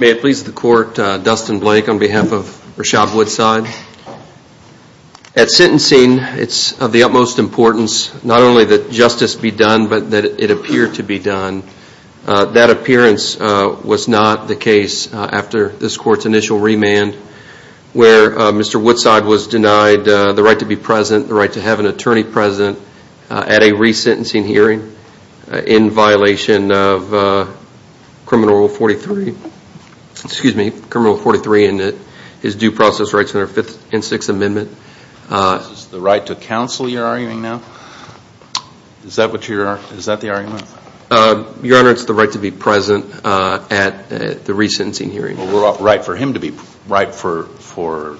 May it please the court, Dustin Blake on behalf of Rashad Woodside. At sentencing, it's of the utmost importance not only that justice be done but that it appear to be done. That appearance was not the case after this court's initial remand where Mr. Woodside was denied the right to be present, the right to have an attorney present at a resentencing hearing in violation of criminal rule 43, excuse me, criminal rule 43 in his due process rights under Fifth and Sixth Amendment. Is this the right to counsel you're arguing now? Is that what you're arguing? Is that the argument? Your Honor, it's the right to be present at the resentencing hearing. Well, right for him to be, right for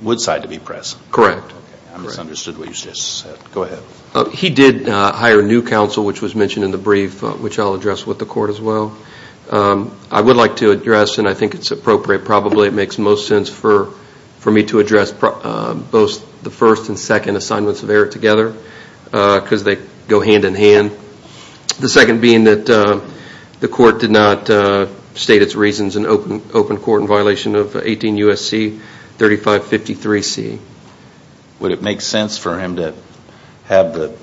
Woodside to be present. Correct. I misunderstood what you just said. Go ahead. He did hire new counsel which was mentioned in the brief which I'll address with the court as well. I would like to address and I think it's appropriate probably it makes most sense for me to address both the first and second assignments of error together because they go hand in hand. The second being that the court did not state its reasons in open court in violation of 18 U.S.C. 3553C. Would it make sense for him to have the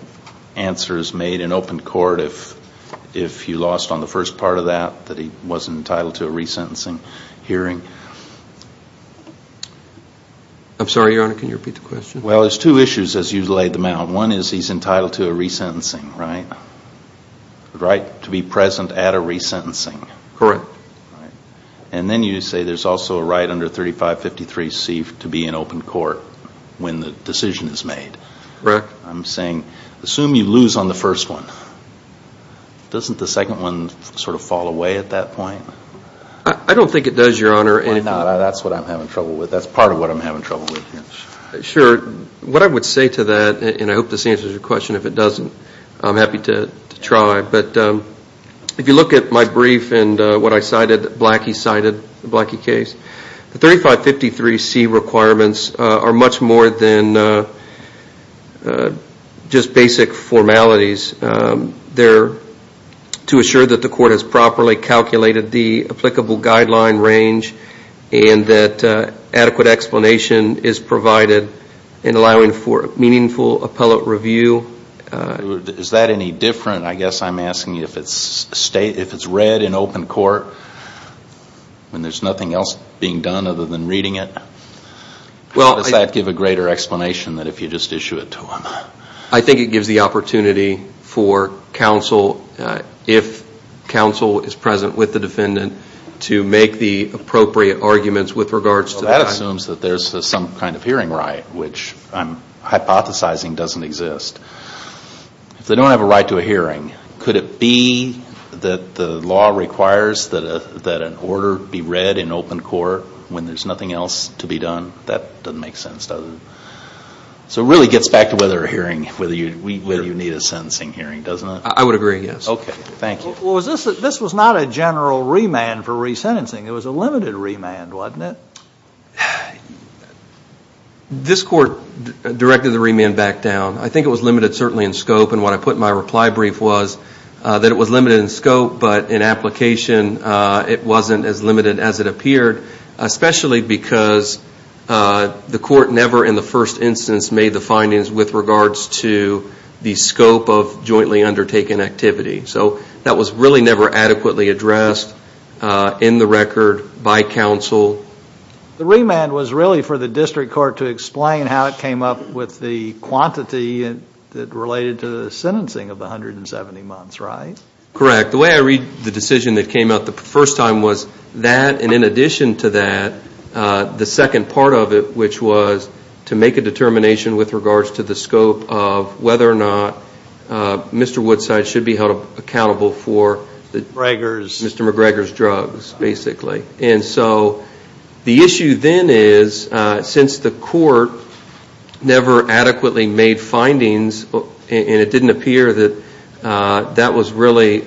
answers made in open court if you lost on the first part of that, that he wasn't entitled to a resentencing hearing? I'm sorry, Your Honor, can you repeat the question? Well, there's two issues as you laid them out. One is he's entitled to a resentencing, right? Right to be present at a resentencing. Correct. And then you say there's also a right under 3553C to be in open court when the decision is made. Correct. I'm saying assume you lose on the first one. Doesn't the second one sort of fall away at that point? I don't think it does, Your Honor. Well, no, that's what I'm having trouble with. That's part of what I'm having trouble with. Sure. What I would say to that and I hope this answers your question, if it doesn't, I'm happy to try. But if you look at my brief and what I cited, Blackie cited, the Blackie case, the 3553C requirements are much more than just basic formalities. To assure that the court has properly calculated the applicable guideline range and that adequate explanation is provided in allowing for meaningful appellate review. Is that any different, I guess I'm asking you, if it's read in open court and there's nothing else being done other than reading it, how does that give a greater explanation than if you just issue it to them? I think it gives the opportunity for counsel, if counsel is present with the defendant, to make the appropriate arguments with regards to the... If they don't have a right to a hearing, could it be that the law requires that an order be read in open court when there's nothing else to be done? That doesn't make sense, does it? So it really gets back to whether you need a sentencing hearing, doesn't it? I would agree, yes. Okay. Thank you. Well, this was not a general remand for resentencing. It was a limited remand, wasn't it? This court directed the remand back down. I think it was limited certainly in scope, and what I put in my reply brief was that it was limited in scope, but in application it wasn't as limited as it appeared, especially because the court never in the first instance made the findings with regards to the scope of jointly undertaken activity. So that was really never adequately addressed in the record by counsel. The remand was really for the district court to explain how it came up with the quantity that related to the sentencing of the 170 months, right? Correct. The way I read the decision that came out the first time was that, and in addition to that, the second part of it, which was to make a determination with regards to the scope of whether or not Mr. Woodside should be held accountable for Mr. McGregor's drugs, basically. And so the issue then is, since the court never adequately made findings, and it didn't appear that that was really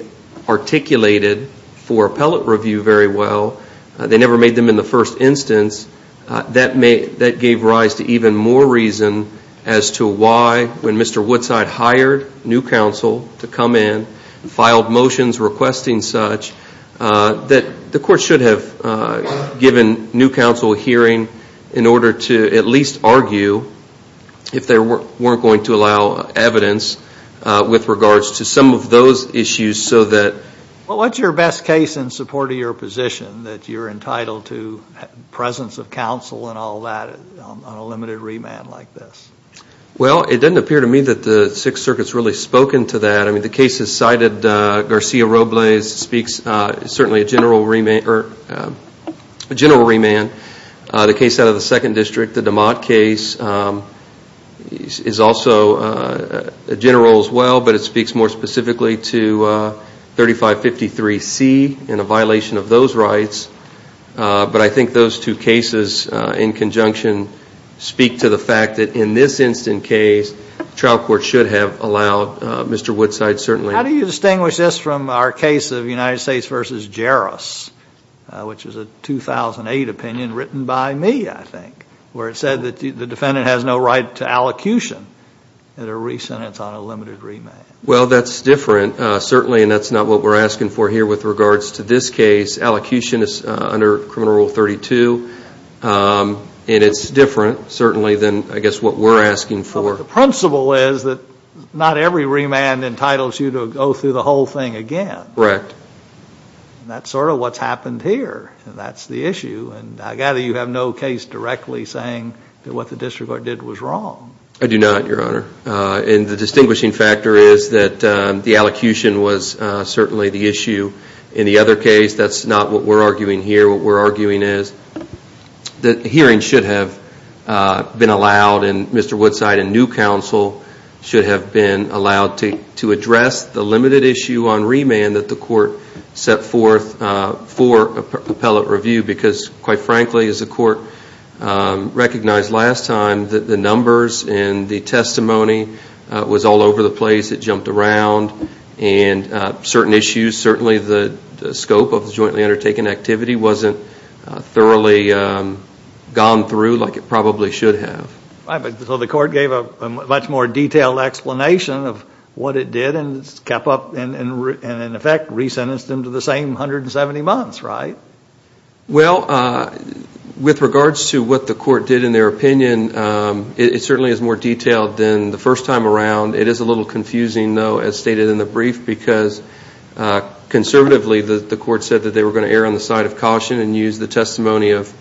articulated for appellate review very well, they never made them in the first instance, that gave rise to even more reason as to why when Mr. Woodside hired new counsel to come in, filed motions requesting such, that the court should have given new counsel a hearing in order to at least argue if they weren't going to allow evidence with regards to some of those issues so that... Well, what's your best case in support of your position that you're entitled to presence of counsel and all that on a limited remand like this? Well, it doesn't appear to me that the Sixth Circuit's really spoken to that. I mean, the case that's cited, Garcia Robles, speaks certainly a general remand. The case out of the Second District, the DeMott case, is also a general as well, but it speaks more specifically to 3553C and a violation of those rights. But I think those two cases in conjunction speak to the fact that in this instant case, the trial court should have allowed Mr. Woodside certainly... How do you distinguish this from our case of United States v. Jarrus, which is a 2008 opinion written by me, I think, where it said that the defendant has no right to allocution at a re-sentence on a limited remand? Well, that's different, certainly, and that's not what we're asking for here with regards to this case. Allocution is under Criminal Rule 32, and it's different, certainly, than, I guess, what we're asking for. But the principle is that not every remand entitles you to go through the whole thing again. Correct. And that's sort of what's happened here, and that's the issue. And I gather you have no case directly saying that what the district court did was wrong. I do not, Your Honor. And the distinguishing factor is that the allocution was certainly the issue in the other case. That's not what we're arguing here. What we're arguing is that hearings should have been allowed, and Mr. Woodside and new counsel should have been allowed to address the limited issue on remand that the court set forth for appellate review because, quite frankly, as the court recognized last time, the numbers and the testimony was all over the place. It jumped around. And certain issues, certainly the scope of the jointly undertaken activity wasn't thoroughly gone through like it probably should have. Right. So the court gave a much more detailed explanation of what it did and kept up and, in effect, re-sentenced him to the same 170 months, right? Well, with regards to what the court did in their opinion, it certainly is more detailed than the first time around. It is a little confusing, though, as stated in the brief, because conservatively the court said that they were going to err on the side of caution and use the testimony of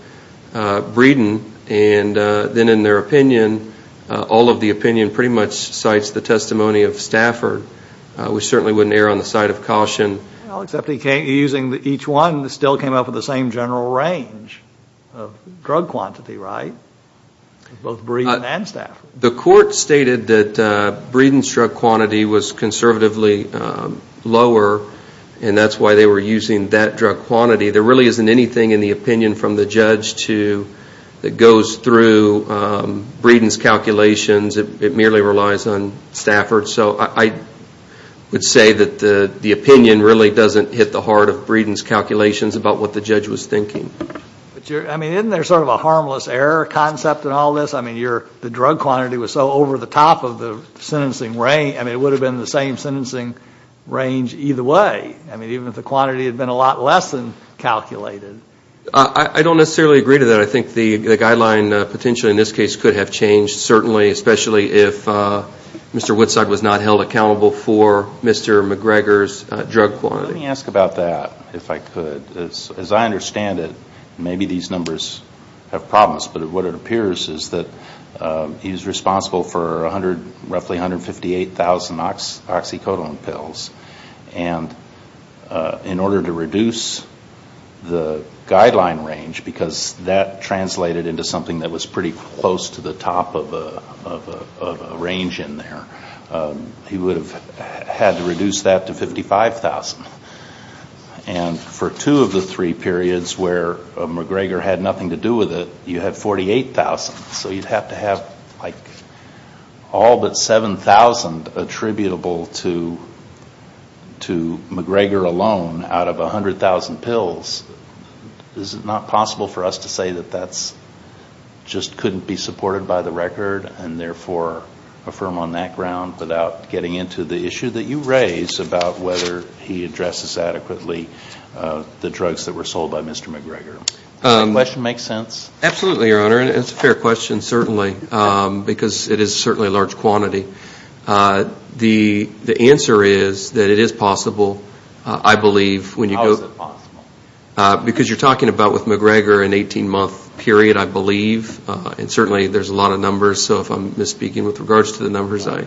Breeden. And then in their opinion, all of the opinion pretty much cites the testimony of Stafford, which certainly wouldn't err on the side of caution. Well, except each one still came up with the same general range of drug quantity, right? Both Breeden and Stafford. The court stated that Breeden's drug quantity was conservatively lower, and that's why they were using that drug quantity. There really isn't anything in the opinion from the judge that goes through Breeden's calculations. It merely relies on Stafford. So I would say that the opinion really doesn't hit the heart of Breeden's calculations about what the judge was thinking. I mean, isn't there sort of a harmless error concept in all this? I mean, the drug quantity was so over the top of the sentencing range. I mean, it would have been the same sentencing range either way. I mean, even if the quantity had been a lot less than calculated. I don't necessarily agree to that. I think the guideline potentially in this case could have changed, certainly, especially if Mr. Woodside was not held accountable for Mr. McGregor's drug quantity. Let me ask about that, if I could. As I understand it, maybe these numbers have problems. But what it appears is that he's responsible for roughly 158,000 oxycodone pills. And in order to reduce the guideline range, because that translated into something that was pretty close to the top of a range in there, he would have had to reduce that to 55,000. And for two of the three periods where McGregor had nothing to do with it, you have 48,000. So you'd have to have, like, all but 7,000 attributable to McGregor alone out of 100,000 pills. Is it not possible for us to say that that just couldn't be supported by the record and, therefore, affirm on that ground without getting into the issue that you raise about whether he addresses adequately the drugs that were sold by Mr. McGregor? Does that question make sense? Absolutely, Your Honor. It's a fair question, certainly, because it is certainly a large quantity. The answer is that it is possible, I believe, when you go to... Because you're talking about, with McGregor, an 18-month period, I believe, and certainly there's a lot of numbers. So if I'm misspeaking with regards to the numbers, I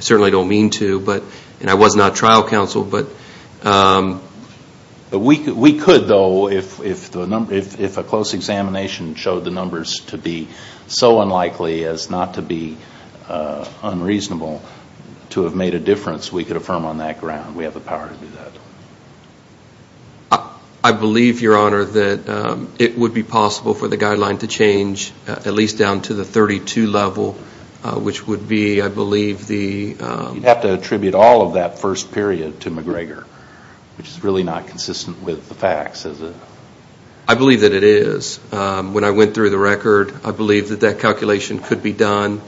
certainly don't mean to, and I was not trial counsel, but... We could, though, if a close examination showed the numbers to be so unlikely as not to be unreasonable, to have made a difference, we could affirm on that ground. We have the power to do that. I believe, Your Honor, that it would be possible for the guideline to change at least down to the 32 level, which would be, I believe, the... You'd have to attribute all of that first period to McGregor, which is really not consistent with the facts, is it? I believe that it is. When I went through the record, I believe that that calculation could be done.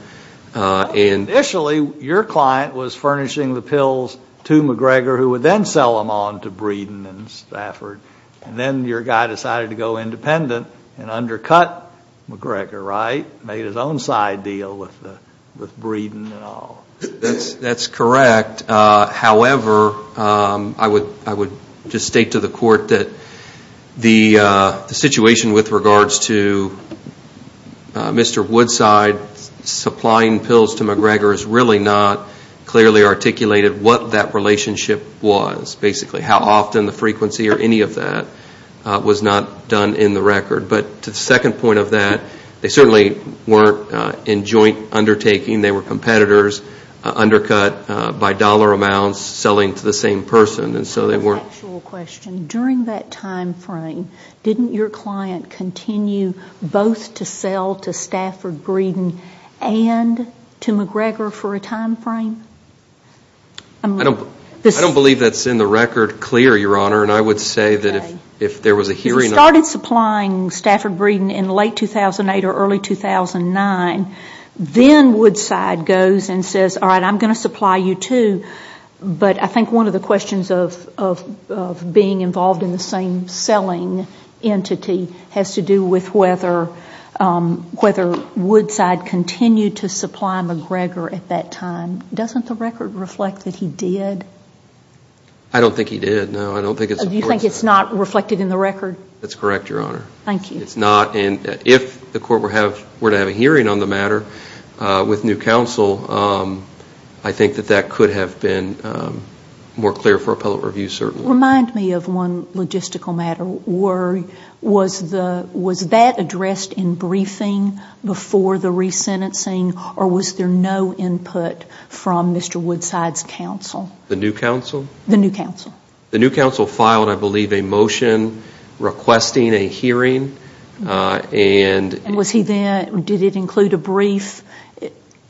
Initially, your client was furnishing the pills to McGregor, who would then sell them on to Breeden and Stafford, and then your guy decided to go independent and undercut McGregor, right? Made his own side deal with Breeden and all. That's correct. However, I would just state to the Court that the situation with regards to Mr. Woodside supplying pills to McGregor has really not clearly articulated what that relationship was, basically. How often the frequency or any of that was not done in the record. But to the second point of that, they certainly weren't in joint undertaking. They were competitors, undercut by dollar amounts, selling to the same person. And so they weren't... A factual question. During that time frame, didn't your client continue both to sell to Stafford Breeden and to McGregor for a time frame? I don't believe that's in the record clear, Your Honor. And I would say that if there was a hearing... If he started supplying Stafford Breeden in late 2008 or early 2009, then Woodside goes and says, all right, I'm going to supply you too. But I think one of the questions of being involved in the same selling entity has to do with whether Woodside continued to supply McGregor at that time. Doesn't the record reflect that he did? I don't think he did, no. You think it's not reflected in the record? That's correct, Your Honor. Thank you. It's not. And if the court were to have a hearing on the matter with New Counsel, I think that that could have been more clear for appellate review, certainly. Remind me of one logistical matter. Was that addressed in briefing before the resentencing, or was there no input from Mr. Woodside's counsel? The New Counsel? The New Counsel. The New Counsel filed, I believe, a motion requesting a hearing. And was he then, did it include a brief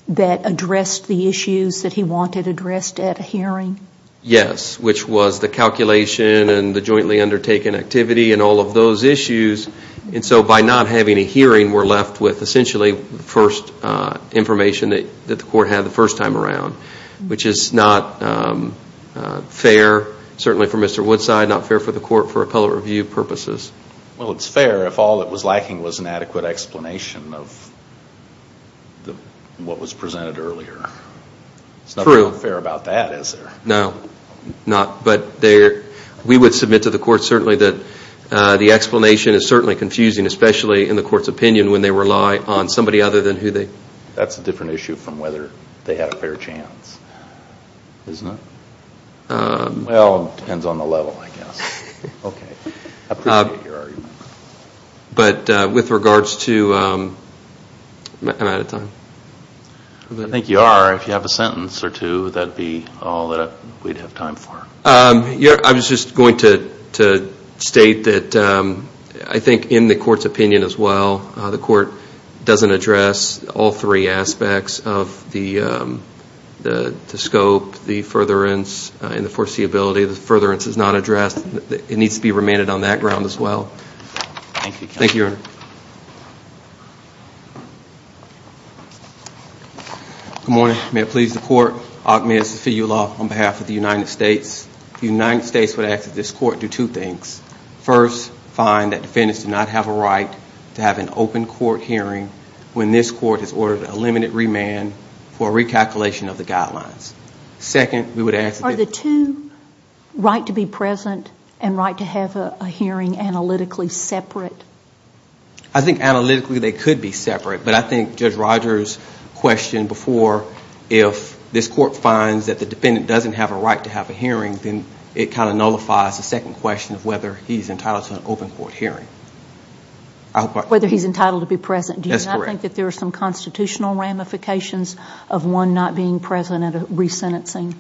that addressed the issues that he wanted addressed at a hearing? Yes, which was the calculation and the jointly undertaken activity and all of those issues. And so by not having a hearing, we're left with, essentially, the first information that the court had the first time around, which is not fair, certainly for Mr. Woodside, not fair for the court for appellate review purposes. Well, it's fair if all it was lacking was an adequate explanation of what was presented earlier. True. It's not fair about that, is there? No, not. But we would submit to the court, certainly, that the explanation is certainly confusing, especially in the court's opinion when they rely on somebody other than who they... Isn't it? Well, it depends on the level, I guess. Okay. I appreciate your argument. But with regards to... I'm out of time. I think you are. If you have a sentence or two, that would be all that we'd have time for. I was just going to state that I think in the court's opinion as well, the court doesn't address all three aspects of the scope, the furtherance, and the foreseeability. The furtherance is not addressed. It needs to be remanded on that ground as well. Thank you. Thank you, Your Honor. Good morning. May it please the court, Ahmed Zafiullah on behalf of the United States. The United States would ask that this court do two things. First, find that defendants do not have a right to have an open court hearing when this court has ordered a limited remand for recalculation of the guidelines. Second, we would ask... Are the two right to be present and right to have a hearing analytically separate? I think analytically they could be separate, but I think Judge Rogers' question before, if this court finds that the defendant doesn't have a right to have a hearing, then it kind of nullifies the second question of whether he's entitled to an open court hearing. Whether he's entitled to be present. That's correct. Do you not think that there are some constitutional ramifications of one not being present at a resentencing?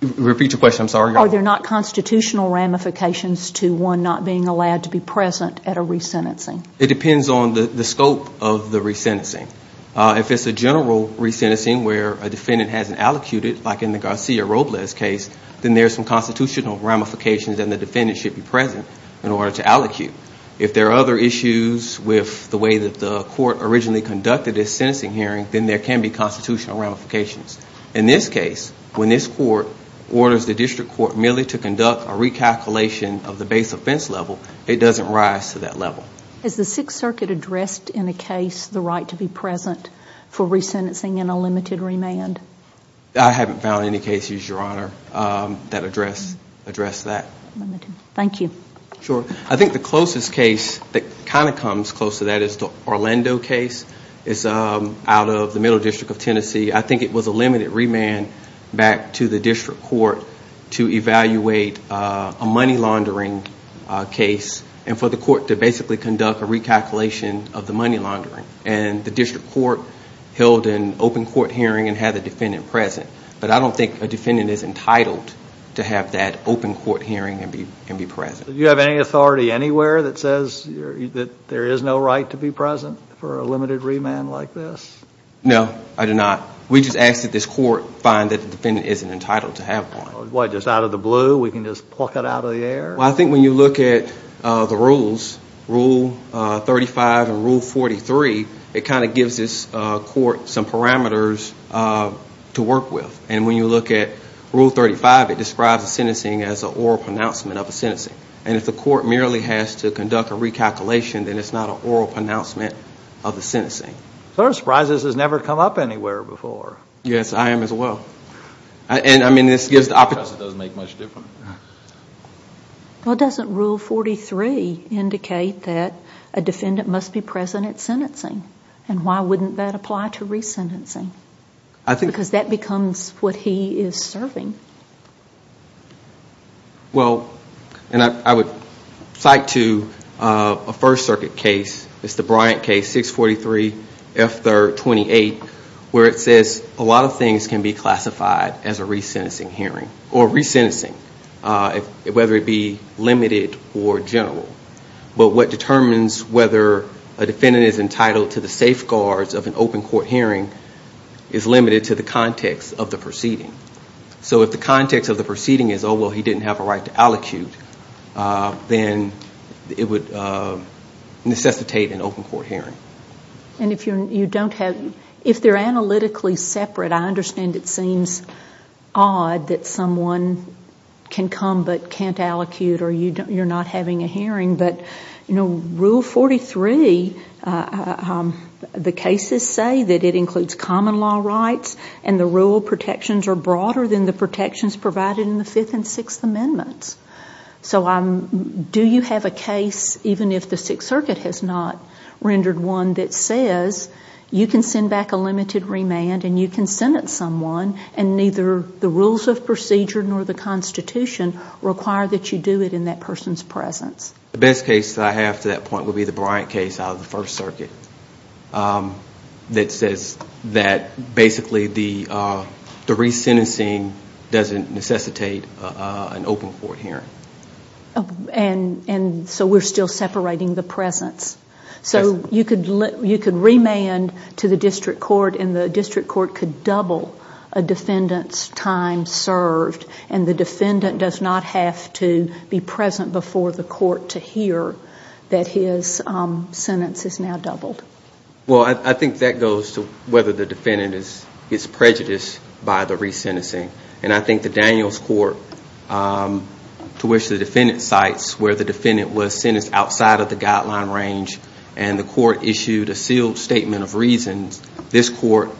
Repeat your question. I'm sorry. Are there not constitutional ramifications to one not being allowed to be present at a resentencing? It depends on the scope of the resentencing. If it's a general resentencing where a defendant hasn't allocated, like in the Garcia-Robles case, then there's some constitutional ramifications and the defendant should be present in order to allocate. If there are other issues with the way that the court originally conducted its sentencing hearing, then there can be constitutional ramifications. In this case, when this court orders the district court merely to conduct a recalculation of the base offense level, it doesn't rise to that level. Is the Sixth Circuit addressed in a case the right to be present for resentencing and a limited remand? I haven't found any cases, Your Honor, that address that. Thank you. Sure. I think the closest case that kind of comes close to that is the Orlando case. It's out of the Middle District of Tennessee. I think it was a limited remand back to the district court to evaluate a money laundering case and for the court to basically conduct a recalculation of the money laundering. And the district court held an open court hearing and had the defendant present. But I don't think a defendant is entitled to have that open court hearing and be present. Do you have any authority anywhere that says that there is no right to be present for a limited remand like this? No, I do not. We just ask that this court find that the defendant isn't entitled to have one. What, just out of the blue? We can just pluck it out of the air? Well, I think when you look at the rules, Rule 35 and Rule 43, it kind of gives this court some parameters to work with. And when you look at Rule 35, it describes a sentencing as an oral pronouncement of a sentencing. And if the court merely has to conduct a recalculation, then it's not an oral pronouncement of a sentencing. So I'm surprised this has never come up anywhere before. Yes, I am as well. Because it doesn't make much difference. Well, doesn't Rule 43 indicate that a defendant must be present at sentencing? And why wouldn't that apply to resentencing? Because that becomes what he is serving. Well, and I would cite to a First Circuit case, it's the Bryant case, 643 F3rd 28, where it says a lot of things can be classified as a resentencing hearing, or resentencing, whether it be limited or general. But what determines whether a defendant is entitled to the safeguards of an open court hearing is limited to the context of the proceeding. So if the context of the proceeding is, oh, well, he didn't have a right to allocute, then it would necessitate an open court hearing. And if they're analytically separate, I understand it seems odd that someone can come but can't allocute, or you're not having a hearing. But Rule 43, the cases say that it includes common law rights, and the rule protections are broader than the protections provided in the Fifth and Sixth Amendments. So do you have a case, even if the Sixth Circuit has not rendered one, that says you can send back a limited remand and you can sentence someone, and neither the rules of procedure nor the Constitution require that you do it in that person's presence? The best case that I have to that point would be the Bryant case out of the First Circuit that says that basically the resentencing doesn't necessitate an open court hearing. And so we're still separating the presence. So you could remand to the district court, and the district court could double a defendant's time served, and the defendant does not have to be present before the court to hear that his sentence is now doubled. Well, I think that goes to whether the defendant is prejudiced by the resentencing. And I think the Daniels court, to which the defendant cites, where the defendant was sentenced outside of the guideline range, and the court issued a sealed statement of reasons, this court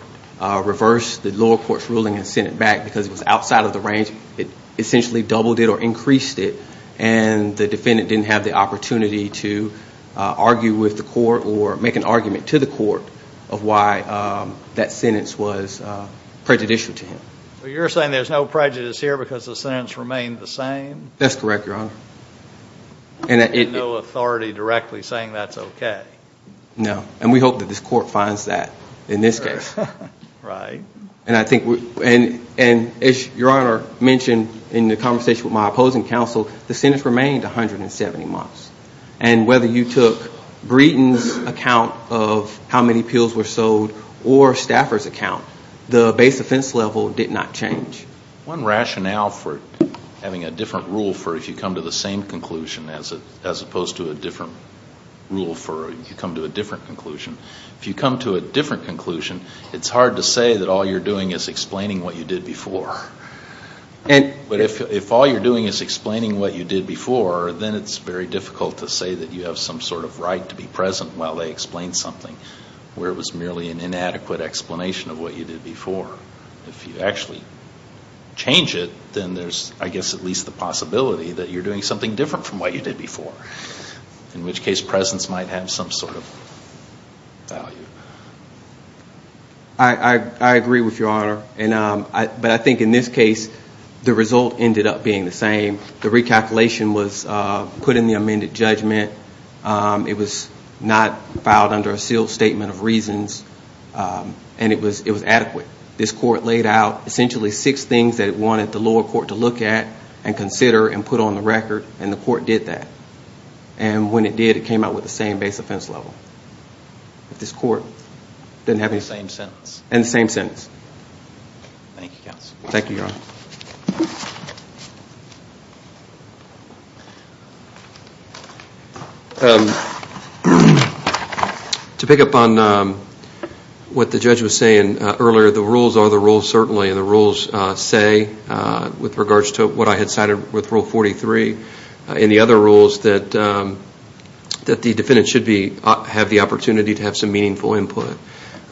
reversed the lower court's ruling and sent it back because it was outside of the range. It essentially doubled it or increased it, and the defendant didn't have the opportunity to argue with the court or make an argument to the court of why that sentence was prejudicial to him. So you're saying there's no prejudice here because the sentence remained the same? That's correct, Your Honor. And no authority directly saying that's okay? No, and we hope that this court finds that in this case. Right. And as Your Honor mentioned in the conversation with my opposing counsel, the sentence remained 170 months. And whether you took Breeden's account of how many pills were sold or Stafford's account, the base offense level did not change. One rationale for having a different rule for if you come to the same conclusion as opposed to a different rule for if you come to a different conclusion, if you come to a different conclusion, it's hard to say that all you're doing is explaining what you did before. But if all you're doing is explaining what you did before, then it's very difficult to say that you have some sort of right to be present while they explain something where it was merely an inadequate explanation of what you did before. If you actually change it, then there's, I guess, at least the possibility that you're doing something different from what you did before, in which case presence might have some sort of value. I agree with Your Honor, but I think in this case the result ended up being the same. The recalculation was put in the amended judgment. It was not filed under a sealed statement of reasons, and it was adequate. This court laid out essentially six things that it wanted the lower court to look at and consider and put on the record, and the court did that. And when it did, it came out with the same base offense level. This court didn't have any... Same sentence. And same sentence. Thank you, counsel. Thank you, Your Honor. To pick up on what the judge was saying earlier, the rules are the rules certainly, and the rules say, with regards to what I had cited with Rule 43, and the other rules, that the defendant should have the opportunity to have some meaningful input.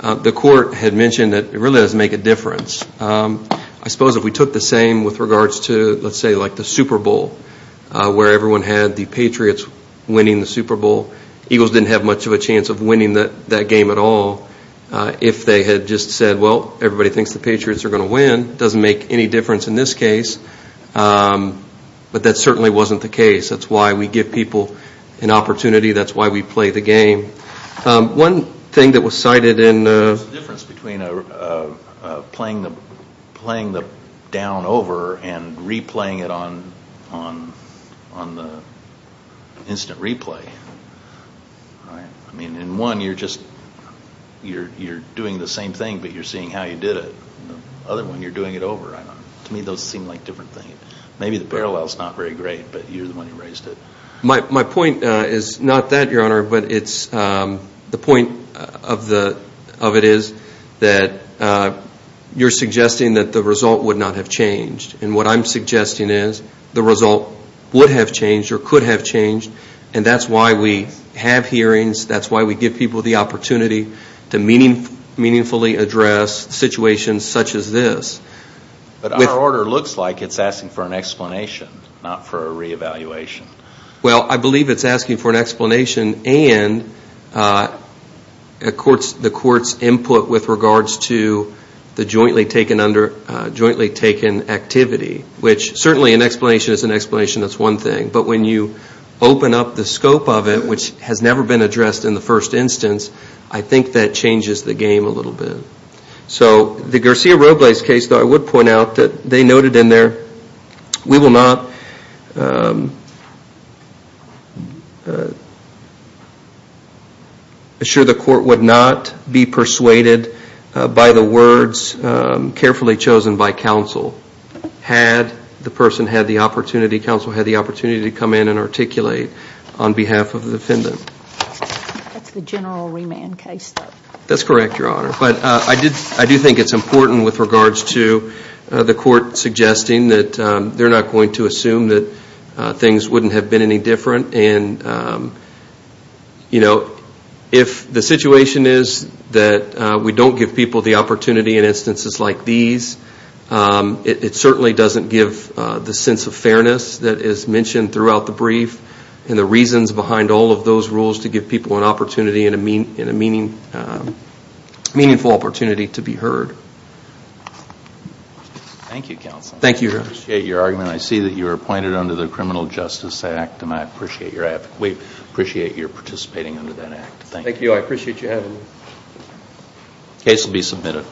The court had mentioned that it really doesn't make a difference. I suppose if we took the same with regards to, let's say, like the Super Bowl, where everyone had the Patriots winning the Super Bowl, Eagles didn't have much of a chance of winning that game at all. If they had just said, well, everybody thinks the Patriots are going to win, it doesn't make any difference in this case. But that certainly wasn't the case. That's why we give people an opportunity. That's why we play the game. One thing that was cited in... What's the difference between playing the down over and replaying it on the instant replay? In one, you're doing the same thing, but you're seeing how you did it. In the other one, you're doing it over. To me, those seem like different things. Maybe the parallel is not very great, but you're the one who raised it. My point is not that, Your Honor, but the point of it is that you're suggesting that the result would not have changed. And what I'm suggesting is the result would have changed or could have changed, and that's why we have hearings. That's why we give people the opportunity to meaningfully address situations such as this. But our order looks like it's asking for an explanation, not for a reevaluation. Well, I believe it's asking for an explanation and the court's input with regards to the jointly taken activity, which certainly an explanation is an explanation. That's one thing. But when you open up the scope of it, which has never been addressed in the first instance, I think that changes the game a little bit. So the Garcia-Robles case, though, I would point out that they noted in there, we will not assure the court would not be persuaded by the words carefully chosen by counsel. Had the person had the opportunity, counsel had the opportunity to come in and articulate on behalf of the defendant. That's the general remand case, though. That's correct, Your Honor. But I do think it's important with regards to the court suggesting that they're not going to assume that things wouldn't have been any different. And, you know, if the situation is that we don't give people the opportunity in instances like these, it certainly doesn't give the sense of fairness that is mentioned throughout the brief and the reasons behind all of those rules to give people an opportunity and a meaningful opportunity to be heard. Thank you, counsel. Thank you, Your Honor. I appreciate your argument. I see that you're appointed under the Criminal Justice Act, and I appreciate your effort. We appreciate your participating under that act. Thank you. Thank you. I appreciate you having me. The case will be submitted.